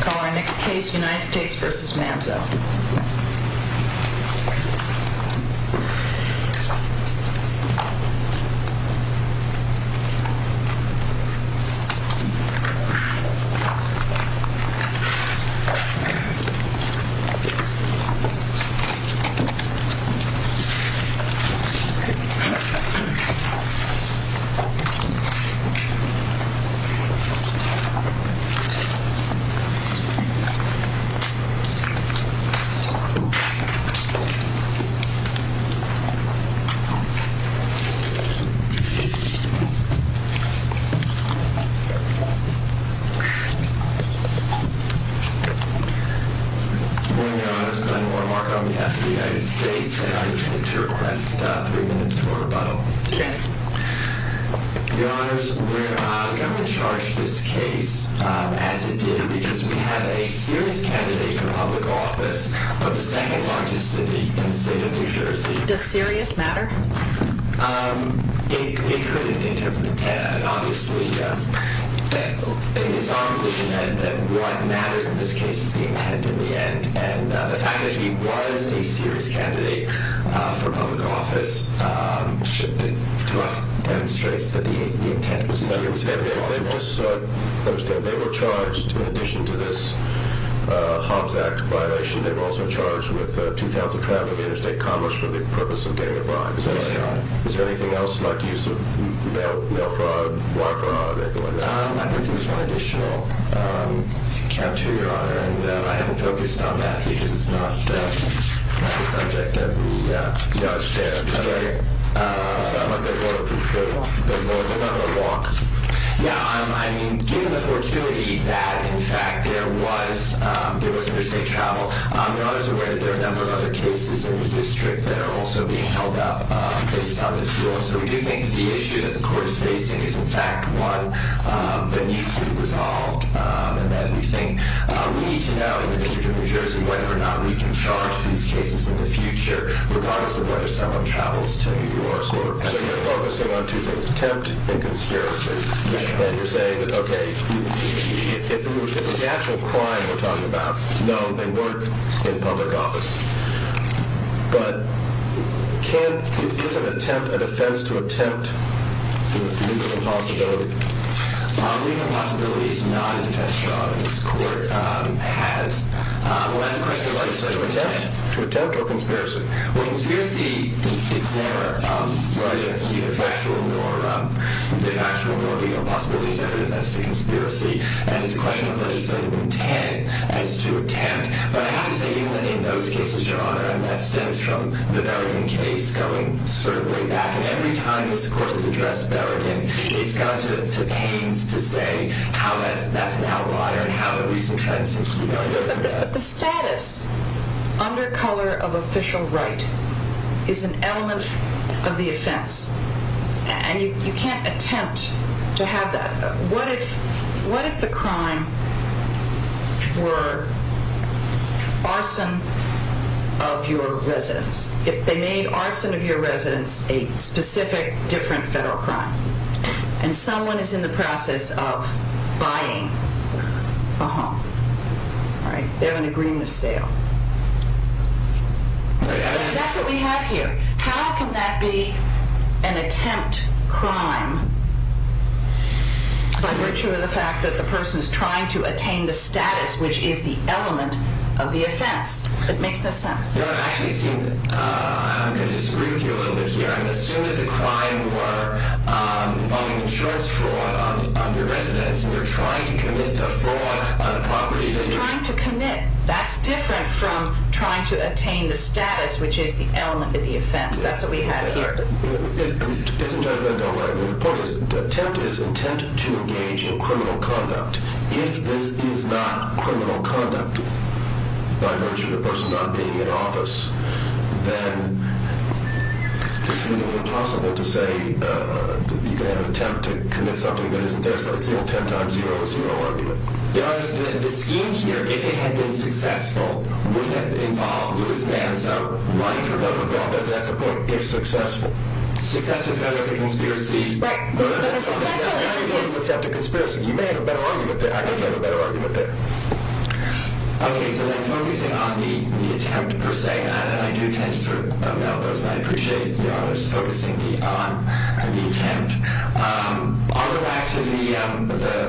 Call our next case, United States v. Manzo Good morning, your honors. Glenn Warren Mark on behalf of the United States and I'd like to request three minutes for rebuttal. Your honors, we're not going to charge this case as it did because we have a serious candidate for public office for the second largest city in the state of New Jersey. Does serious matter? It could in terms of intent and obviously it is our position that what matters in this case is the intent in the end and the fact that he was a serious candidate for public office demonstrates that the intent was possible. They were charged in addition to this Hobbs Act violation, they were also charged with two counts of trafficking in interstate commerce for the purpose of getting a bribe. Is there anything else like use of mail fraud, wire fraud? I don't think there was one additional character, your honor, and I haven't focused on that because it's not the subject that we, you know, share. Okay. So I'd like to order approval. Your honor, walk. Yeah, I mean, given the fortuity that in fact there was interstate travel, your honors are aware that there are a number of other cases in the district that are also being held up based on this. So we do think the issue that the court is facing is in fact one that needs to be resolved and that we think we need to know in the district of New Jersey whether or not we can charge these cases in the future regardless of whether someone travels to New York. So you're focusing on two things, attempt and conspiracy. And you're saying that, okay, if the actual crime we're talking about, no, they weren't in public office. But can, is there an attempt, a defense to attempt for legal impossibility? Legal impossibility is not a defense, your honor. This court has. Well, that's a question of legislative intent. To attempt or conspiracy? Well, conspiracy, it's never whether it can be a factual nor legal possibility. It's never a defense to conspiracy. And it's a question of legislative intent as to attempt. But I have to say even in those cases, your honor, and that stems from the Berrien case going sort of way back. And every time this court has addressed Berrien, it's gone to pains to say how that's an outlier and how the recent trend seems to be going over that. But the status under color of official right is an element of the offense. And you can't attempt to have that. What if the crime were arson of your residence? If they made arson of your residence a specific different federal crime and someone is in the process of buying a home, right? They have an agreement of sale. That's what we have here. How can that be an attempt crime by virtue of the fact that the person is trying to attain the status which is the element of the offense? It makes no sense. Your Honor, I'm going to disagree with you a little bit here. I'm going to assume that the crime were involving insurance fraud on your residence and you're trying to commit to fraud on a property that you're... I'm trying to commit. That's different from trying to attain the status which is the element of the offense. That's what we have here. Your Honor, the point is the attempt is intent to engage in criminal conduct. If this is not criminal conduct by virtue of the person not being in office, then it's seemingly impossible to say that you can have an attempt to commit something that isn't there. So it's an attempt times zero is zero argument. Your Honor, the scheme here, if it had been successful, would have involved Lewis Mann. So, right from the beginning of the offense, that's the point, if successful. Success is better than conspiracy. You may have a better argument there. I think you have a better argument there. Okay, so then focusing on the attempt per se, and I do tend to sort of melt those, and I appreciate Your Honor's focusing me on the attempt. I'll go back to the,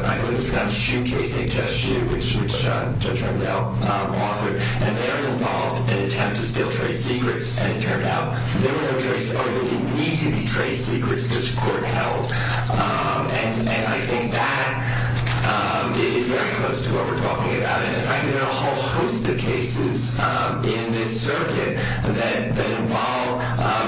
I believe it's called the Shoe Case, H.S. Shoe, which Judge Rendell authored, and they are involved in an attempt to steal trade secrets, and it turned out there were no trade secrets, or there didn't need to be trade secrets, because court held. And I think that is very close to what we're talking about. In fact, there are a whole host of cases in this circuit that involve,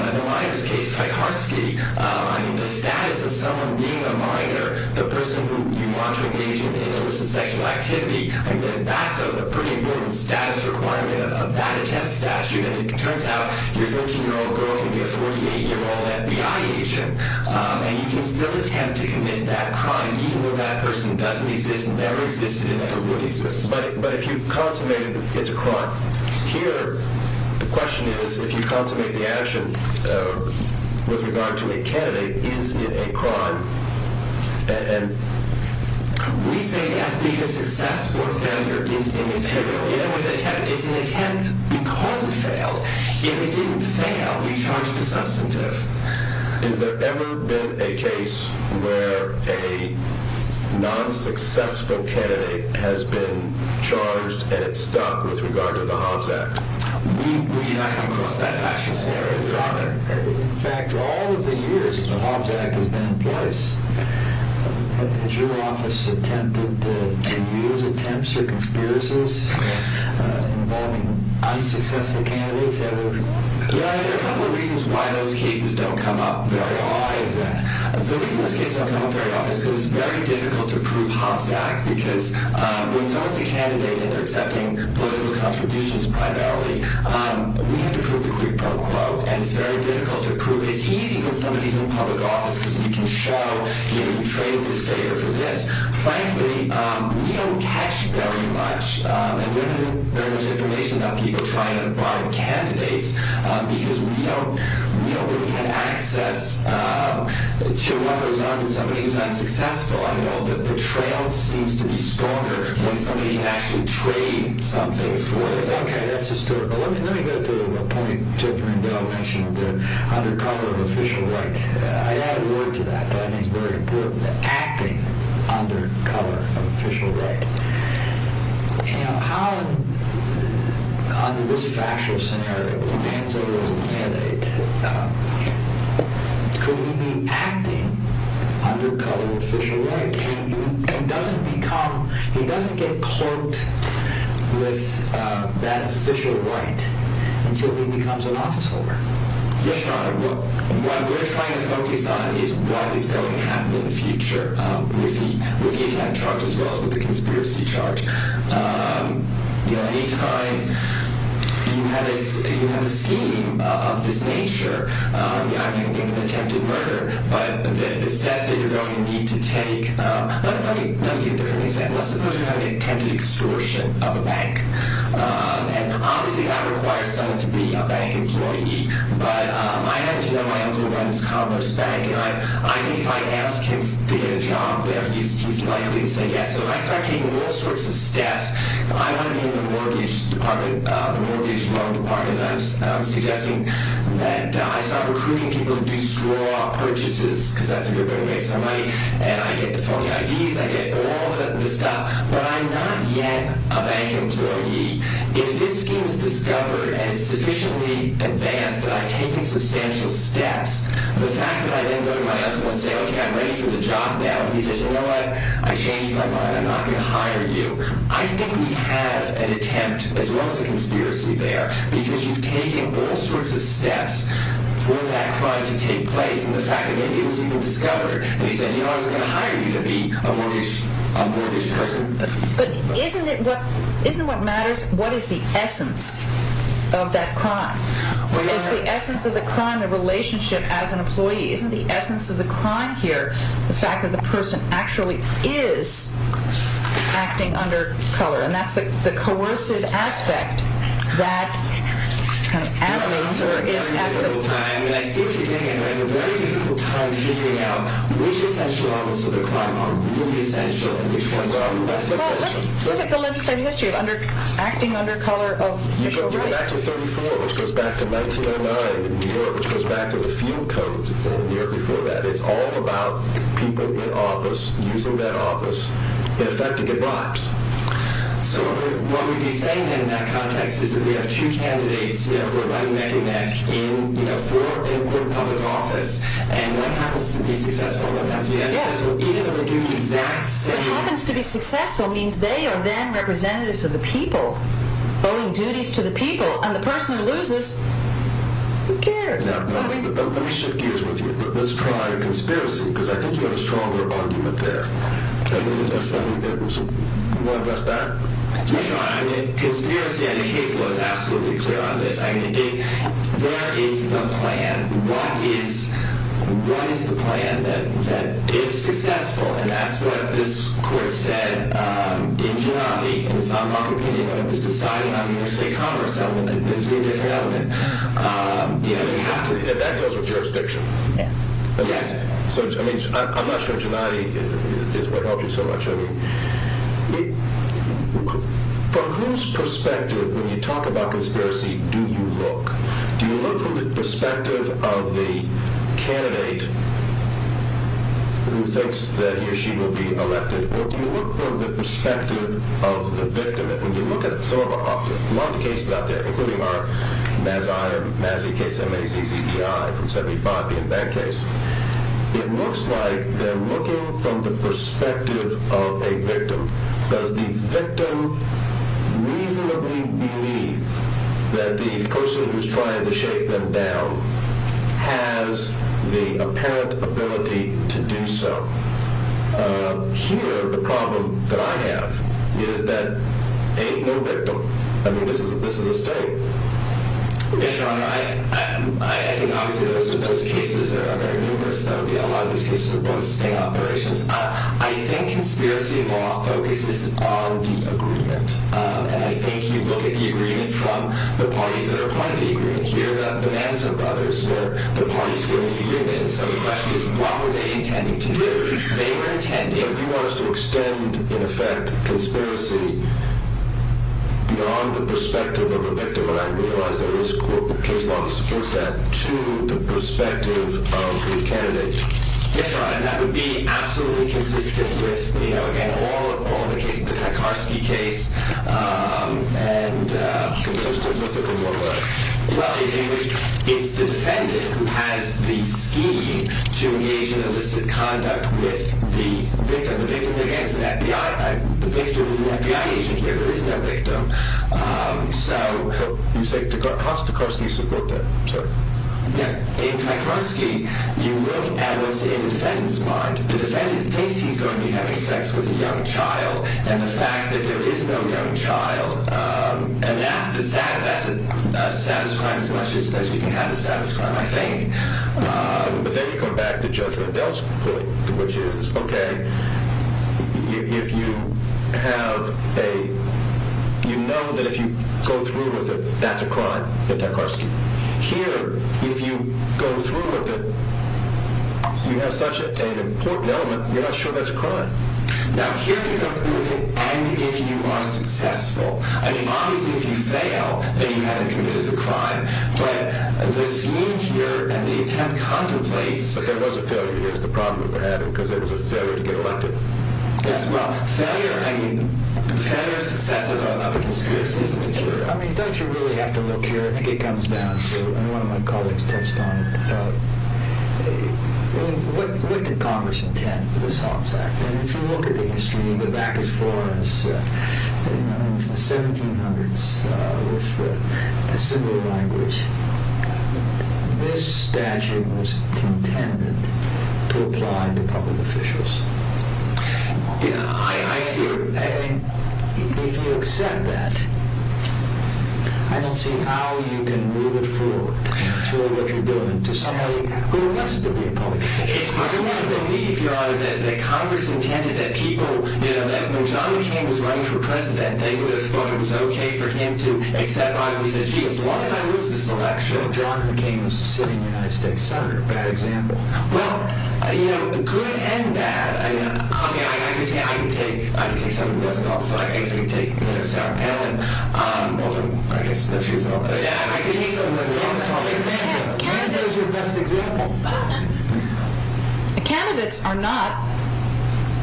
in the Miners case, Tacharski. I mean, the status of someone being a miner, the person who you want to engage in illicit sexual activity, I mean, that's a pretty important status requirement of that attempt statute, and it turns out your 13-year-old girl can be a 48-year-old FBI agent, and you can still attempt to commit that crime, even though that person doesn't exist, never existed, and never would exist. But if you consummate, it's a crime. Here, the question is, if you consummate the action with regard to a candidate, is it a crime? We say yes, because success or failure is immaterial. It's an attempt because it failed. If it didn't fail, we charge the substantive. Has there ever been a case where a non-successful candidate has been charged, and it's stuck, with regard to the Hobbs Act? We do not come across that fashion scenario. In fact, all of the years the Hobbs Act has been in place, has your office attempted to use attempts or conspiracies involving unsuccessful candidates ever? Yeah, there are a couple of reasons why those cases don't come up very often. The reason those cases don't come up very often is because it's very difficult to prove Hobbs Act, because when someone's a candidate and they're accepting political contributions primarily, we have to prove the quid pro quo, and it's very difficult to prove. It's easy when somebody's in public office, because we can show, you know, you traded this day or for this. Frankly, we don't catch very much, and we don't have very much information about people trying to find candidates, because we don't really have access to what goes on when somebody is unsuccessful. I mean, all the betrayal seems to be stronger when somebody can actually trade something for it. Okay, that's historical. Let me go to a point Dr. Rendell mentioned, under cover of official right. I added a word to that that I think is very important, acting under cover of official right. You know, how, under this fascist scenario, with a man serving as a candidate, could he be acting under cover of official right? He doesn't get caught with that official right until he becomes an office holder. Yes, Your Honor. What we're trying to focus on is what is going to happen in the future with the attack charge as well as with the conspiracy charge. You know, anytime you have a scheme of this nature, I mean, attempted murder, but the steps that you're going to need to take, let me get it differently said. Let's suppose you're having an attempted extortion of a bank, and obviously that requires someone to be a bank employee, but I happen to know my uncle who runs Cobbler's Bank, and I think if I ask him to get a job, he's likely to say yes. So if I start taking all sorts of steps, I want to be in the mortgage loan department, and I'm suggesting that I start recruiting people to do straw purchases, because that's where you're going to make some money, and I get the phony IDs, I get all the stuff, but I'm not yet a bank employee. If this scheme is discovered and it's sufficiently advanced that I've taken substantial steps, the fact that I then go to my uncle and say, okay, I'm ready for the job now, he says, you know what? I changed my mind. I'm not going to hire you. I think we have an attempt, as well as a conspiracy there, because you've taken all sorts of steps for that crime to take place, and the fact that it was even discovered, and he said, you know what? I'm going to hire you to be a mortgage person. But isn't it what matters? What is the essence of that crime? Isn't the essence of the crime here the fact that the person actually is acting under color? And that's the coercive aspect that animates or is at the... I see what you're getting at. We're having a very difficult time figuring out which essential elements of the crime are really essential and which ones are less essential. Well, let's look at the legislative history of acting under color of racial right. Back to 34, which goes back to 1909 in New York, which goes back to the field code in New York before that. It's all about people in office using that office in effect to get bribes. So what we'd be saying then in that context is that we have two candidates, you know, who are running neck and neck in, you know, four important public offices, and one happens to be successful and one happens to be unsuccessful, even though they do the exact same thing. What happens to be successful means they are then representatives of the people, owing duties to the people. And the person who loses, who cares? Now, let me shift gears with you. Let's try a conspiracy because I think you have a stronger argument there. I mean, a sudden... Do you want to address that? Sure. I mean, conspiracy on the case was absolutely clear on this. I mean, where is the plan? What is the plan that is successful? And that's what this court said in generality. I'm not competing in this society. I'm in the state Congress. I'm in a different element. You know, you have to hit that with jurisdiction. Yes. So, I mean, I'm not sure generality is what helps you so much. I mean, from whose perspective when you talk about conspiracy do you look? Do you look from the perspective of the candidate who thinks that he or she will be elected, or do you look from the perspective of the victim? And when you look at some of the cases out there, including our Mazzi case, M-A-Z-Z-E-I from 75 being that case, it looks like they're looking from the perspective of a victim. Does the victim reasonably believe that the person who's trying to shake them down has the apparent ability to do so? Here, the problem that I have is that ain't no victim. I mean, this is a state. Yes, Your Honor. I think, obviously, those cases are very numerous. A lot of these cases are both state operations. I think conspiracy law focuses on the agreement, and I think you look at the agreement from the parties that are part of the agreement here, the Manson brothers, or the parties who are in the agreement. So the question is, what were they intending to do? They were intending... You want us to extend, in effect, conspiracy beyond the perspective of a victim, and I realize there is a case law that supports that, to the perspective of the candidate. Yes, Your Honor. And that would be absolutely consistent with, you know, again, all the cases, the Tarkarsky case, and... Consistent with it in what way? Well, in which it's the defendant who has the scheme to engage in illicit conduct with the victim. The victim, again, is an FBI agent here. There is no victim. So... How does Tarkarsky support that? I'm sorry. In Tarkarsky, you look at what's in the defendant's mind. The defendant thinks he's going to be having sex with a young child, and the fact that there is no young child, and that's a status crime as much as we can have a status crime, I think. But then you come back to Judge Riddell's point, which is, okay, if you have a... You know that if you go through with it, that's a crime, the Tarkarsky. Here, if you go through with it, you have such an important element, you're not sure that's a crime. Now, here, if you go through with it, and if you are successful, I mean, obviously, if you fail, then you haven't committed the crime. But the scene here and the attempt contemplates... But there was a failure. Here's the problem that we're having, because there was a failure to get elected. Yes, well, failure, I mean, failure is successful, but not the conspiracy as a material. I mean, don't you really have to look here? I think it comes down to, and one of my colleagues touched on it, what did Congress intend for this Hobbs Act? I mean, if you look at the history, you go back as far as the 1700s, it was a similar language. This statute was intended to apply to public officials. I mean, if you accept that, I don't see how you can move it forward. That's really what you're doing, to somebody who must be a public official. It's hard for me to believe, Your Honor, that Congress intended that people, you know, that when John McCain was running for president, they would have thought it was okay for him to accept Hobbs, and he said, geez, why did I lose this election? Well, John McCain was a sitting United States Senator, bad example. Well, you know, good and bad. I mean, I can take someone who doesn't know Hobbs, I can basically take Sarah Palin, although I guess that's who you're talking about. But yeah, I can take someone who doesn't know Hobbs, I'll take Manzo. Manzo's your best example. Candidates are not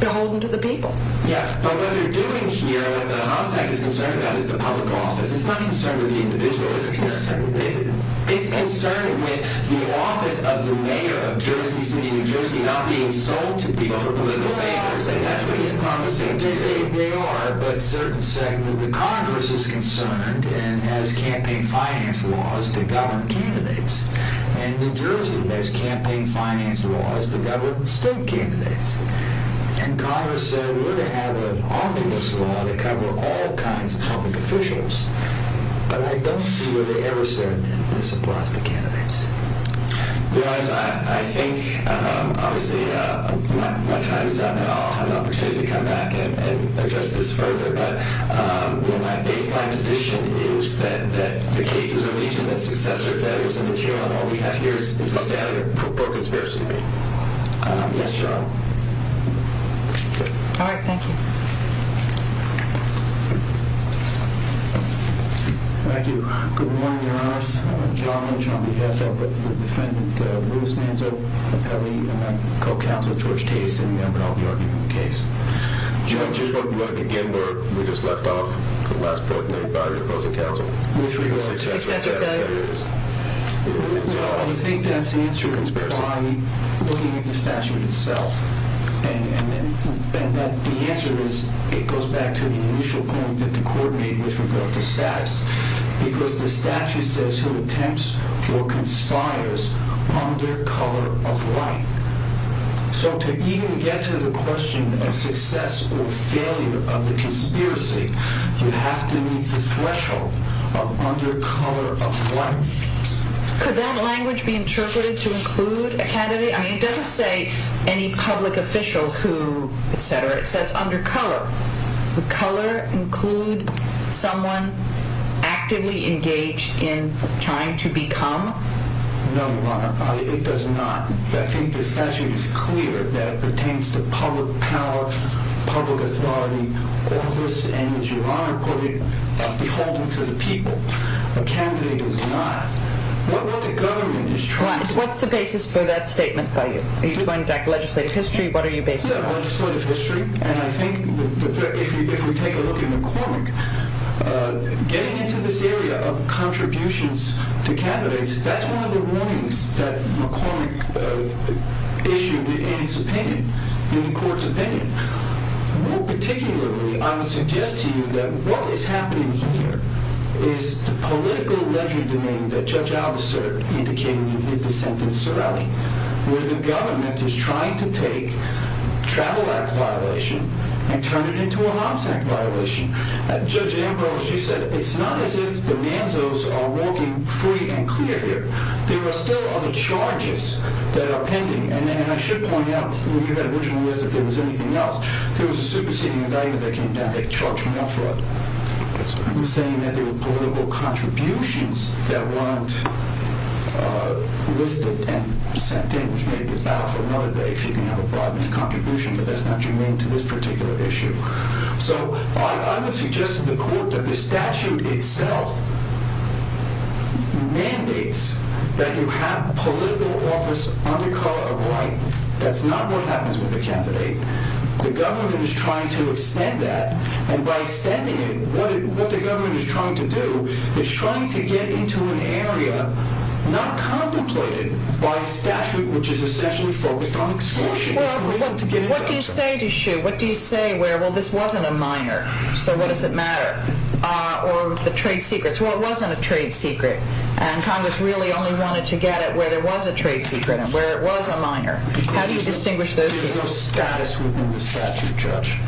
beholden to the people. Yeah, but what they're doing here, what the Hobbs Act is concerned about is the public office. It's not concerned with the individual. It's concerned with the office of the mayor of Jersey City, New Jersey, not being sold to people for political favors. That's what he's promising today. I think they are, but certain say that the Congress is concerned and has campaign finance laws to govern candidates, and New Jersey has campaign finance laws to govern state candidates. And Congress said we're going to have an omnibus law to cover all kinds of public officials, but I don't see where they ever said this applies to candidates. Your Honor, I think obviously my time is up, and I'll have an opportunity to come back and address this further, but my baseline position is that the cases of each of the successors, that it was a material, and what we have here is a failure for conspiracy to be. Yes, Your Honor. All right, thank you. Thank you. Good morning, Your Honors. I'm John Lynch on behalf of the defendant, Louis Manzo. I'm a co-counsel to George Tase, and I'll be arguing the case. Your Honor, just one quick word. We just left off the last point made by the opposing counsel. Successor failure? Well, I think that's the answer. By looking at the statute itself, and the answer is, it goes back to the initial point that the court made with regard to status, because the statute says who attempts or conspires under color of light. So to even get to the question of success or failure of the conspiracy, you have to meet the threshold of under color of light. Could that language be interpreted to include a candidate? I mean, it doesn't say any public official who, et cetera. It says under color. The color include someone actively engaged in trying to become? No, Your Honor, it does not. I think the statute is clear that it pertains to public power, public authority, office, and, as Your Honor put it, beholden to the people. A candidate is not. What the government is trying to do. What's the basis for that statement by you? Are you going back to legislative history? What are you basing it on? Legislative history. And I think if we take a look at McCormick, getting into this area of contributions to candidates, that's one of the warnings that McCormick issued in his opinion, in the court's opinion. More particularly, I would suggest to you that what is happening here is the political ledger domain that Judge Alvester indicated in his dissent in Sorelle, where the government is trying to take a travel act violation and turn it into a homicide violation. Judge Ambrose, you said it's not as if the NANZOs are walking free and clear here. There are still other charges that are pending. And I should point out, when you had original list, if there was anything else, there was a superseding indictment that came down that charged more fraud. I'm saying that there were political contributions that weren't listed and sent in, which may be valid for another day if you can have a broad contribution, but that's not germane to this particular issue. So I would suggest to the court that the statute itself mandates that you have political office under color of white. That's not what happens with a candidate. The government is trying to extend that. And by extending it, what the government is trying to do is trying to get into an area not contemplated by a statute which is essentially focused on extortion. What do you say, Deschutes? What do you say where, well, this wasn't a minor, so what does it matter? Or the trade secrets. Well, it wasn't a trade secret. And Congress really only wanted to get it where there was a trade secret and where it was a minor. How do you distinguish those cases? There's no status within the statute, Judge.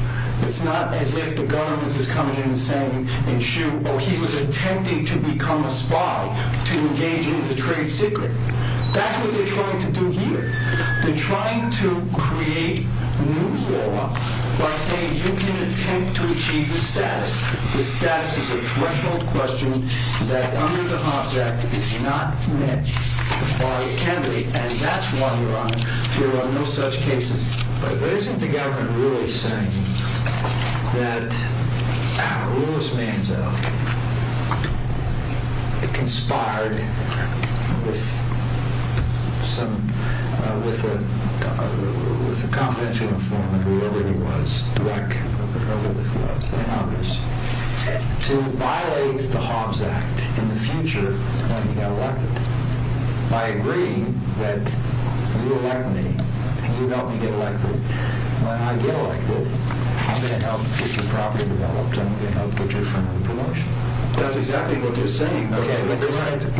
It's not as if the government is coming in and saying, and shoot, oh, he was attempting to become a spy to engage in the trade secret. That's what they're trying to do here. They're trying to create new law by saying you can attempt to achieve the status. The status is a threshold question that under the Hobbs Act is not met by a candidate, and that's why, Your Honor, there are no such cases. But isn't the government really saying that Louis Manziel conspired with a confidential informant, whoever he was, a rec, whoever it was, and others, to violate the Hobbs Act in the future when he got elected by agreeing that you elect me and you help me get elected. When I get elected, I'm going to help get your property developed. I'm going to help get your firm in promotion. That's exactly what you're saying. Okay, but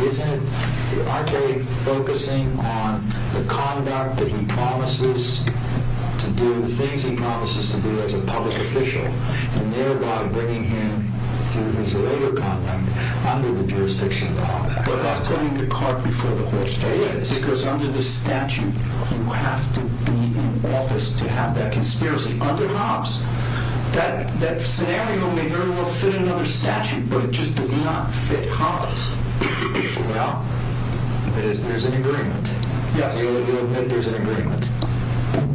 isn't it, aren't they focusing on the conduct that he promises to do, the things he promises to do as a public official, and thereby bringing him through his later conduct under the jurisdiction of the Hobbs Act? But that's putting the cart before the horse. It is. Because under the statute, you have to be in office to have that conspiracy. Under Hobbs, that scenario may very well fit another statute, but it just does not fit Hobbs. Well, there's an agreement. Yes. You admit there's an agreement.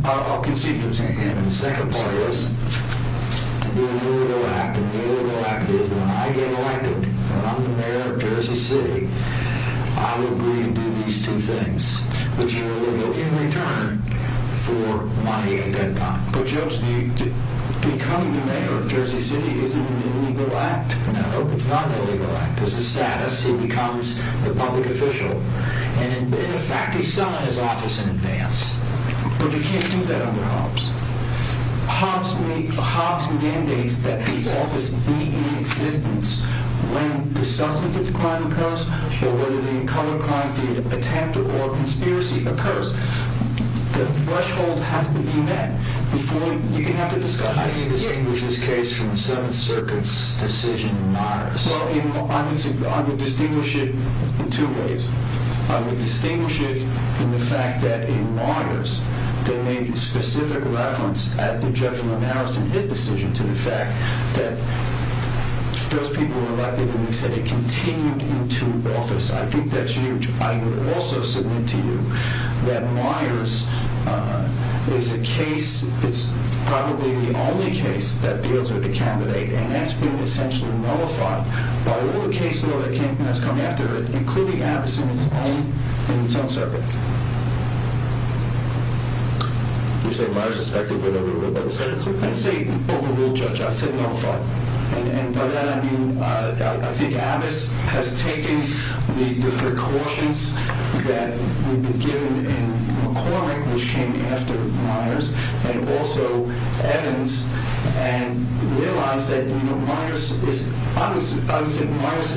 I'll concede there's an agreement. The second part is the illegal act. The illegal act is when I get elected and I'm the mayor of Jersey City, I will agree to do these two things, which are illegal, in return for money at that time. But, Judge, to become the mayor of Jersey City isn't an illegal act. No, it's not an illegal act. It's a status. He becomes the public official. And, in fact, he's selling his office in advance. But you can't do that under Hobbs. Hobbs mandates that the office be in existence when the substantive crime occurs or whether the color crime, the attempt or conspiracy occurs. The threshold has to be met before you can have the discussion. How do you distinguish this case from the Seventh Circuit's decision in Mars? Well, I would distinguish it in two ways. I would distinguish it in the fact that in Myers they made specific reference, as did Judge Linares in his decision, to the fact that those people were elected and they said it continued into office. I think that's huge. I would also submit to you that Myers is a case, it's probably the only case that deals with the candidate, and that's been essentially nullified by all the cases that have come after it, including Abbas in its own circuit. You're saying Myers is effectively overruled by the Seventh Circuit? I didn't say overruled, Judge. I said nullified. And by that I mean I think Abbas has taken the precautions that would be given in McCormick, which came after Myers, and also Evans, and realized that Myers is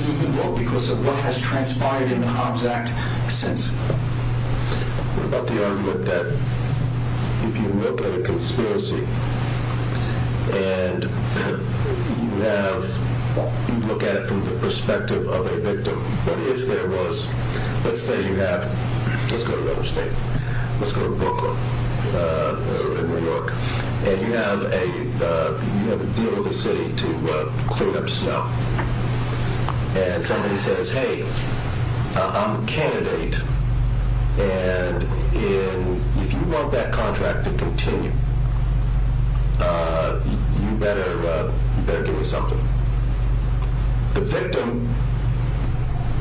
overruled because of what has transpired in the Hobbs Act since. What about the argument that if you look at a conspiracy and you look at it from the perspective of a victim, but if there was, let's say you have, let's go to another state, let's go to Brooklyn in New York, and you have a deal with the city to clean up snow, and somebody says, hey, I'm a candidate, and if you want that contract to continue, you better give me something. The victim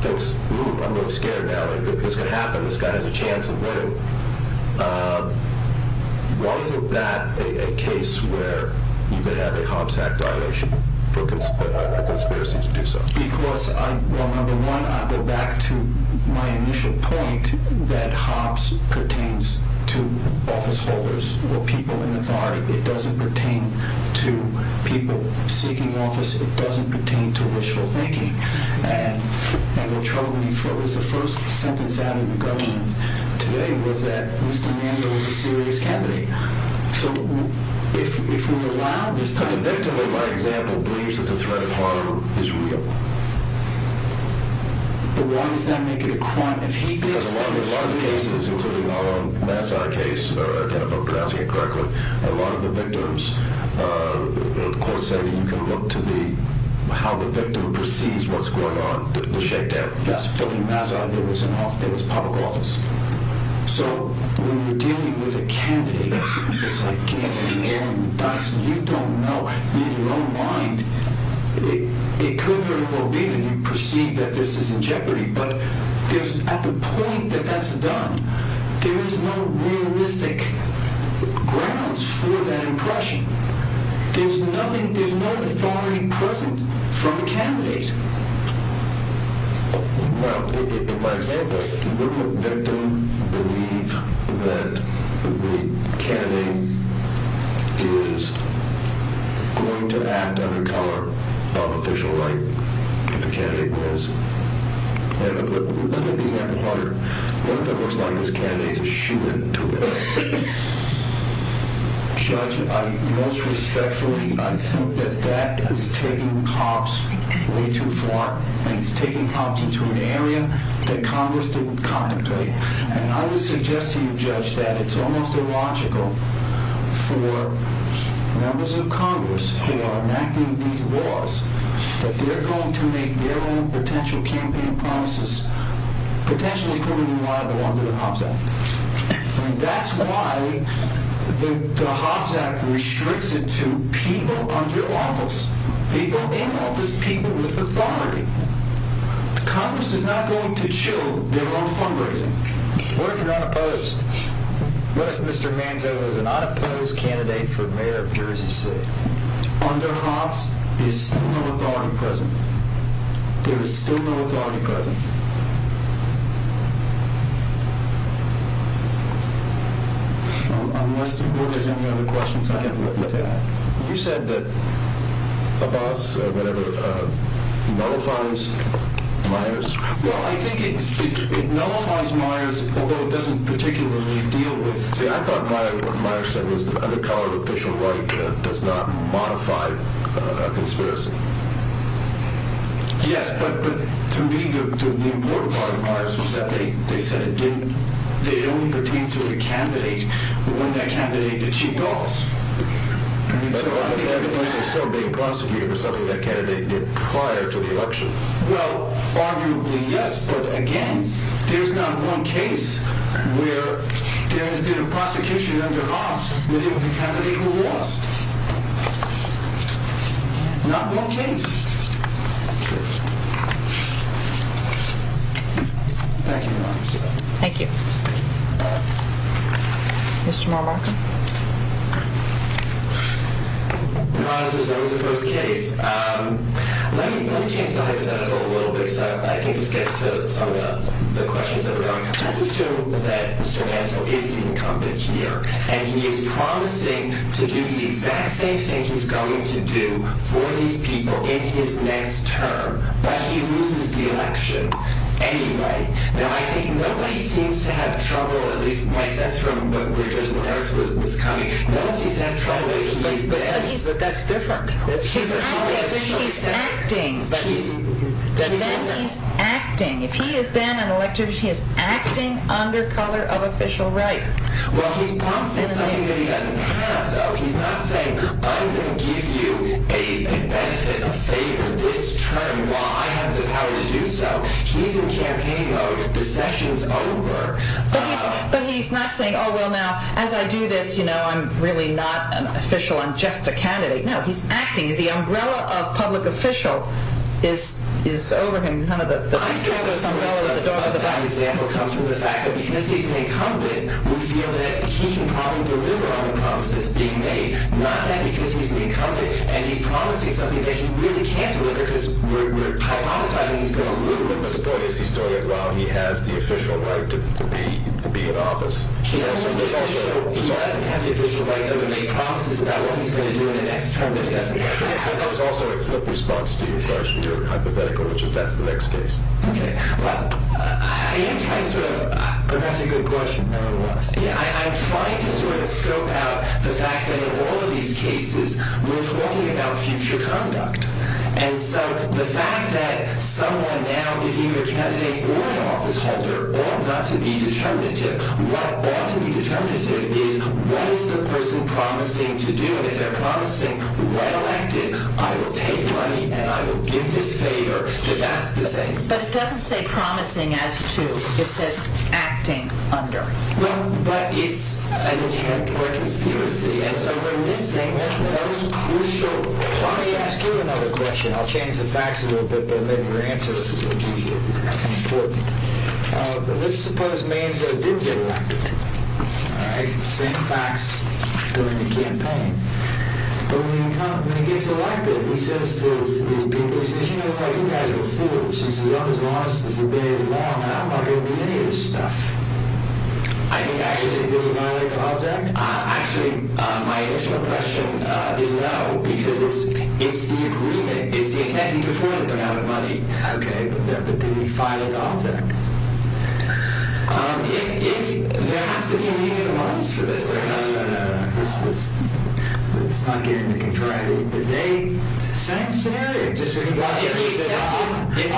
thinks, ooh, I'm a little scared now. If this could happen, this guy has a chance of winning. So why is it that a case where you could have a Hobbs Act violation for a conspiracy to do so? Because, well, number one, I go back to my initial point that Hobbs pertains to office holders or people in authority. It doesn't pertain to people seeking office. It doesn't pertain to wishful thinking. And what Charles Lee felt was the first sentence out of the government today was that Mr. Manzo was a serious candidate. But the victim, in my example, believes that the threat of harm is real. But why does that make it a crime if he thinks that it's real? Because a lot of the cases, including our own Nassau case, if I'm pronouncing it correctly, a lot of the victims, the court said that you can look to how the victim perceives what's going on, the shakedown. Yes, but in Nassau, there was public office. So when you're dealing with a candidate, it's like Kennedy, Warren, Dyson, you don't know in your own mind. It could very well be that you perceive that this is in jeopardy, but at the point that that's done, there is no realistic grounds for that impression. There's nothing, there's no authority present from the candidate. Well, in my example, wouldn't the victim believe that the candidate is going to act under color of official right if the candidate was? Let's look at the example harder. What if it looks like this candidate is a shooter? Judge, most respectfully, I think that that is taking cops way too far, and it's taking cops into an area that Congress didn't contemplate. And I would suggest to you, Judge, that it's almost illogical for members of Congress who are enacting these laws that they're going to make their own potential campaign promises, potentially criminal and liable under the Hobbs Act. And that's why the Hobbs Act restricts it to people under office, people in office, people with authority. Congress is not going to chill their own fundraising. What if you're unopposed? What if Mr. Manzo is an unopposed candidate for mayor of Jersey City? Under Hobbs, there's still no authority present. There is still no authority present. Unless you have any other questions, I have nothing to add. You said that Abbas nullifies Myers? Well, I think it nullifies Myers, although it doesn't particularly deal with... See, I thought what Myers said was that under colored official right does not modify a conspiracy. Yes, but to me, the important part of Myers was that they said it only pertains to the candidate when that candidate achieved office. But why would that person still be prosecuted for something that candidate did prior to the election? Well, arguably yes, but again, there's not one case where there has been a prosecution under Hobbs with the candidate who lost. Not one case. Thank you, Your Honor. Thank you. Mr. Marwaka? Your Honor, as a result of the first case, let me change the hypothetical a little bit, so I think this gets to some of the questions that were going. Let's assume that Mr. Manzo is the incumbent here, and he is promising to do the exact same thing he's going to do for these people in his next term, but he loses the election anyway. Now, I think nobody seems to have trouble, at least my sense from where Judge Myers was coming, no one seems to have trouble. But that's different. He's acting, but then he's acting. If he has been elected, he is acting under color of official right. Well, he's promising something that he doesn't have, though. He's not saying, I'm going to give you a benefit, a favor this term while I have the power to do so. He's in campaign mode. The session's over. But he's not saying, oh, well, now, as I do this, you know, I'm really not an official. I'm just a candidate. No, he's acting. The umbrella of public official is over him. None of the rest of those umbrellas are the door of the house. I think most of that example comes from the fact that because he's an incumbent, we feel that he can probably deliver on the promise that's being made. Not that because he's an incumbent and he's promising something that he really can't deliver because we're hypothesizing he's going to lose. But the point is he's doing it while he has the official right to be in office. He doesn't have the official right to make promises about what he's going to do in the next term of the investigation. So there's also a flip response to your question, your hypothetical, which is that's the next case. I'm trying to sort of scope out the fact that in all of these cases, we're talking about future conduct. And so the fact that someone now is either a candidate or an office holder ought not to be determinative. What ought to be determinative is what is the person promising to do? If they're promising when elected, I will take money and I will give this favor. But that's the same. But it doesn't say promising as to. It says acting under. But it's an attempt or a conspiracy. And so we're missing the most crucial part. Let me ask you another question. I'll change the facts a little bit, but then your answer will be important. But let's suppose means that it did get elected. All right. Same facts during the campaign. But when he gets elected, he says to his people, he says, you know what? You guys are fools. You've always lost. This has been as long. And I'm not going to do any of this stuff. I think I actually did violate the object. Actually, my initial question is no, because it's it's the agreement. It's the attempt before the amount of money. OK, but then we fight it off. If there has to be a legal moneys for this, it's not getting the contrariety. But they say, just because he said, if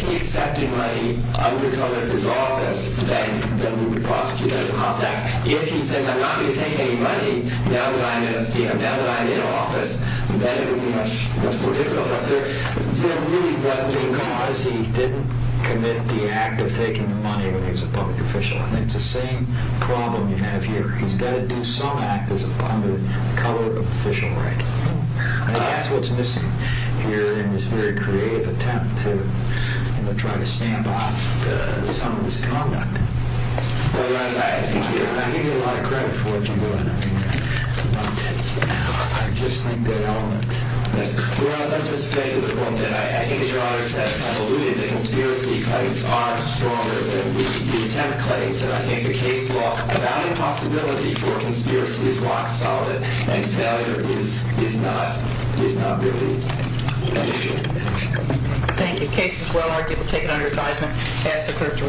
he accepted money, I would call his office. Then we would prosecute as an object. If he says, I'm not going to take any money now that I'm in office, then it would be much, much more difficult. Because he didn't commit the act of taking money when he was a public official. I think it's the same problem you have here. He's got to do some act as a public official. Right. That's what's missing here in this very creative attempt to try to stamp out some of this conduct. I give you a lot of credit for what you're doing. I mean, I just think that element. I think the conspiracy claims are stronger than the attempt claims. And I think the case law about impossibility for conspiracy is rock solid. And failure is not really an issue. Thank you. Case is well argued. We'll take it under advisement. Pass the clerk to me.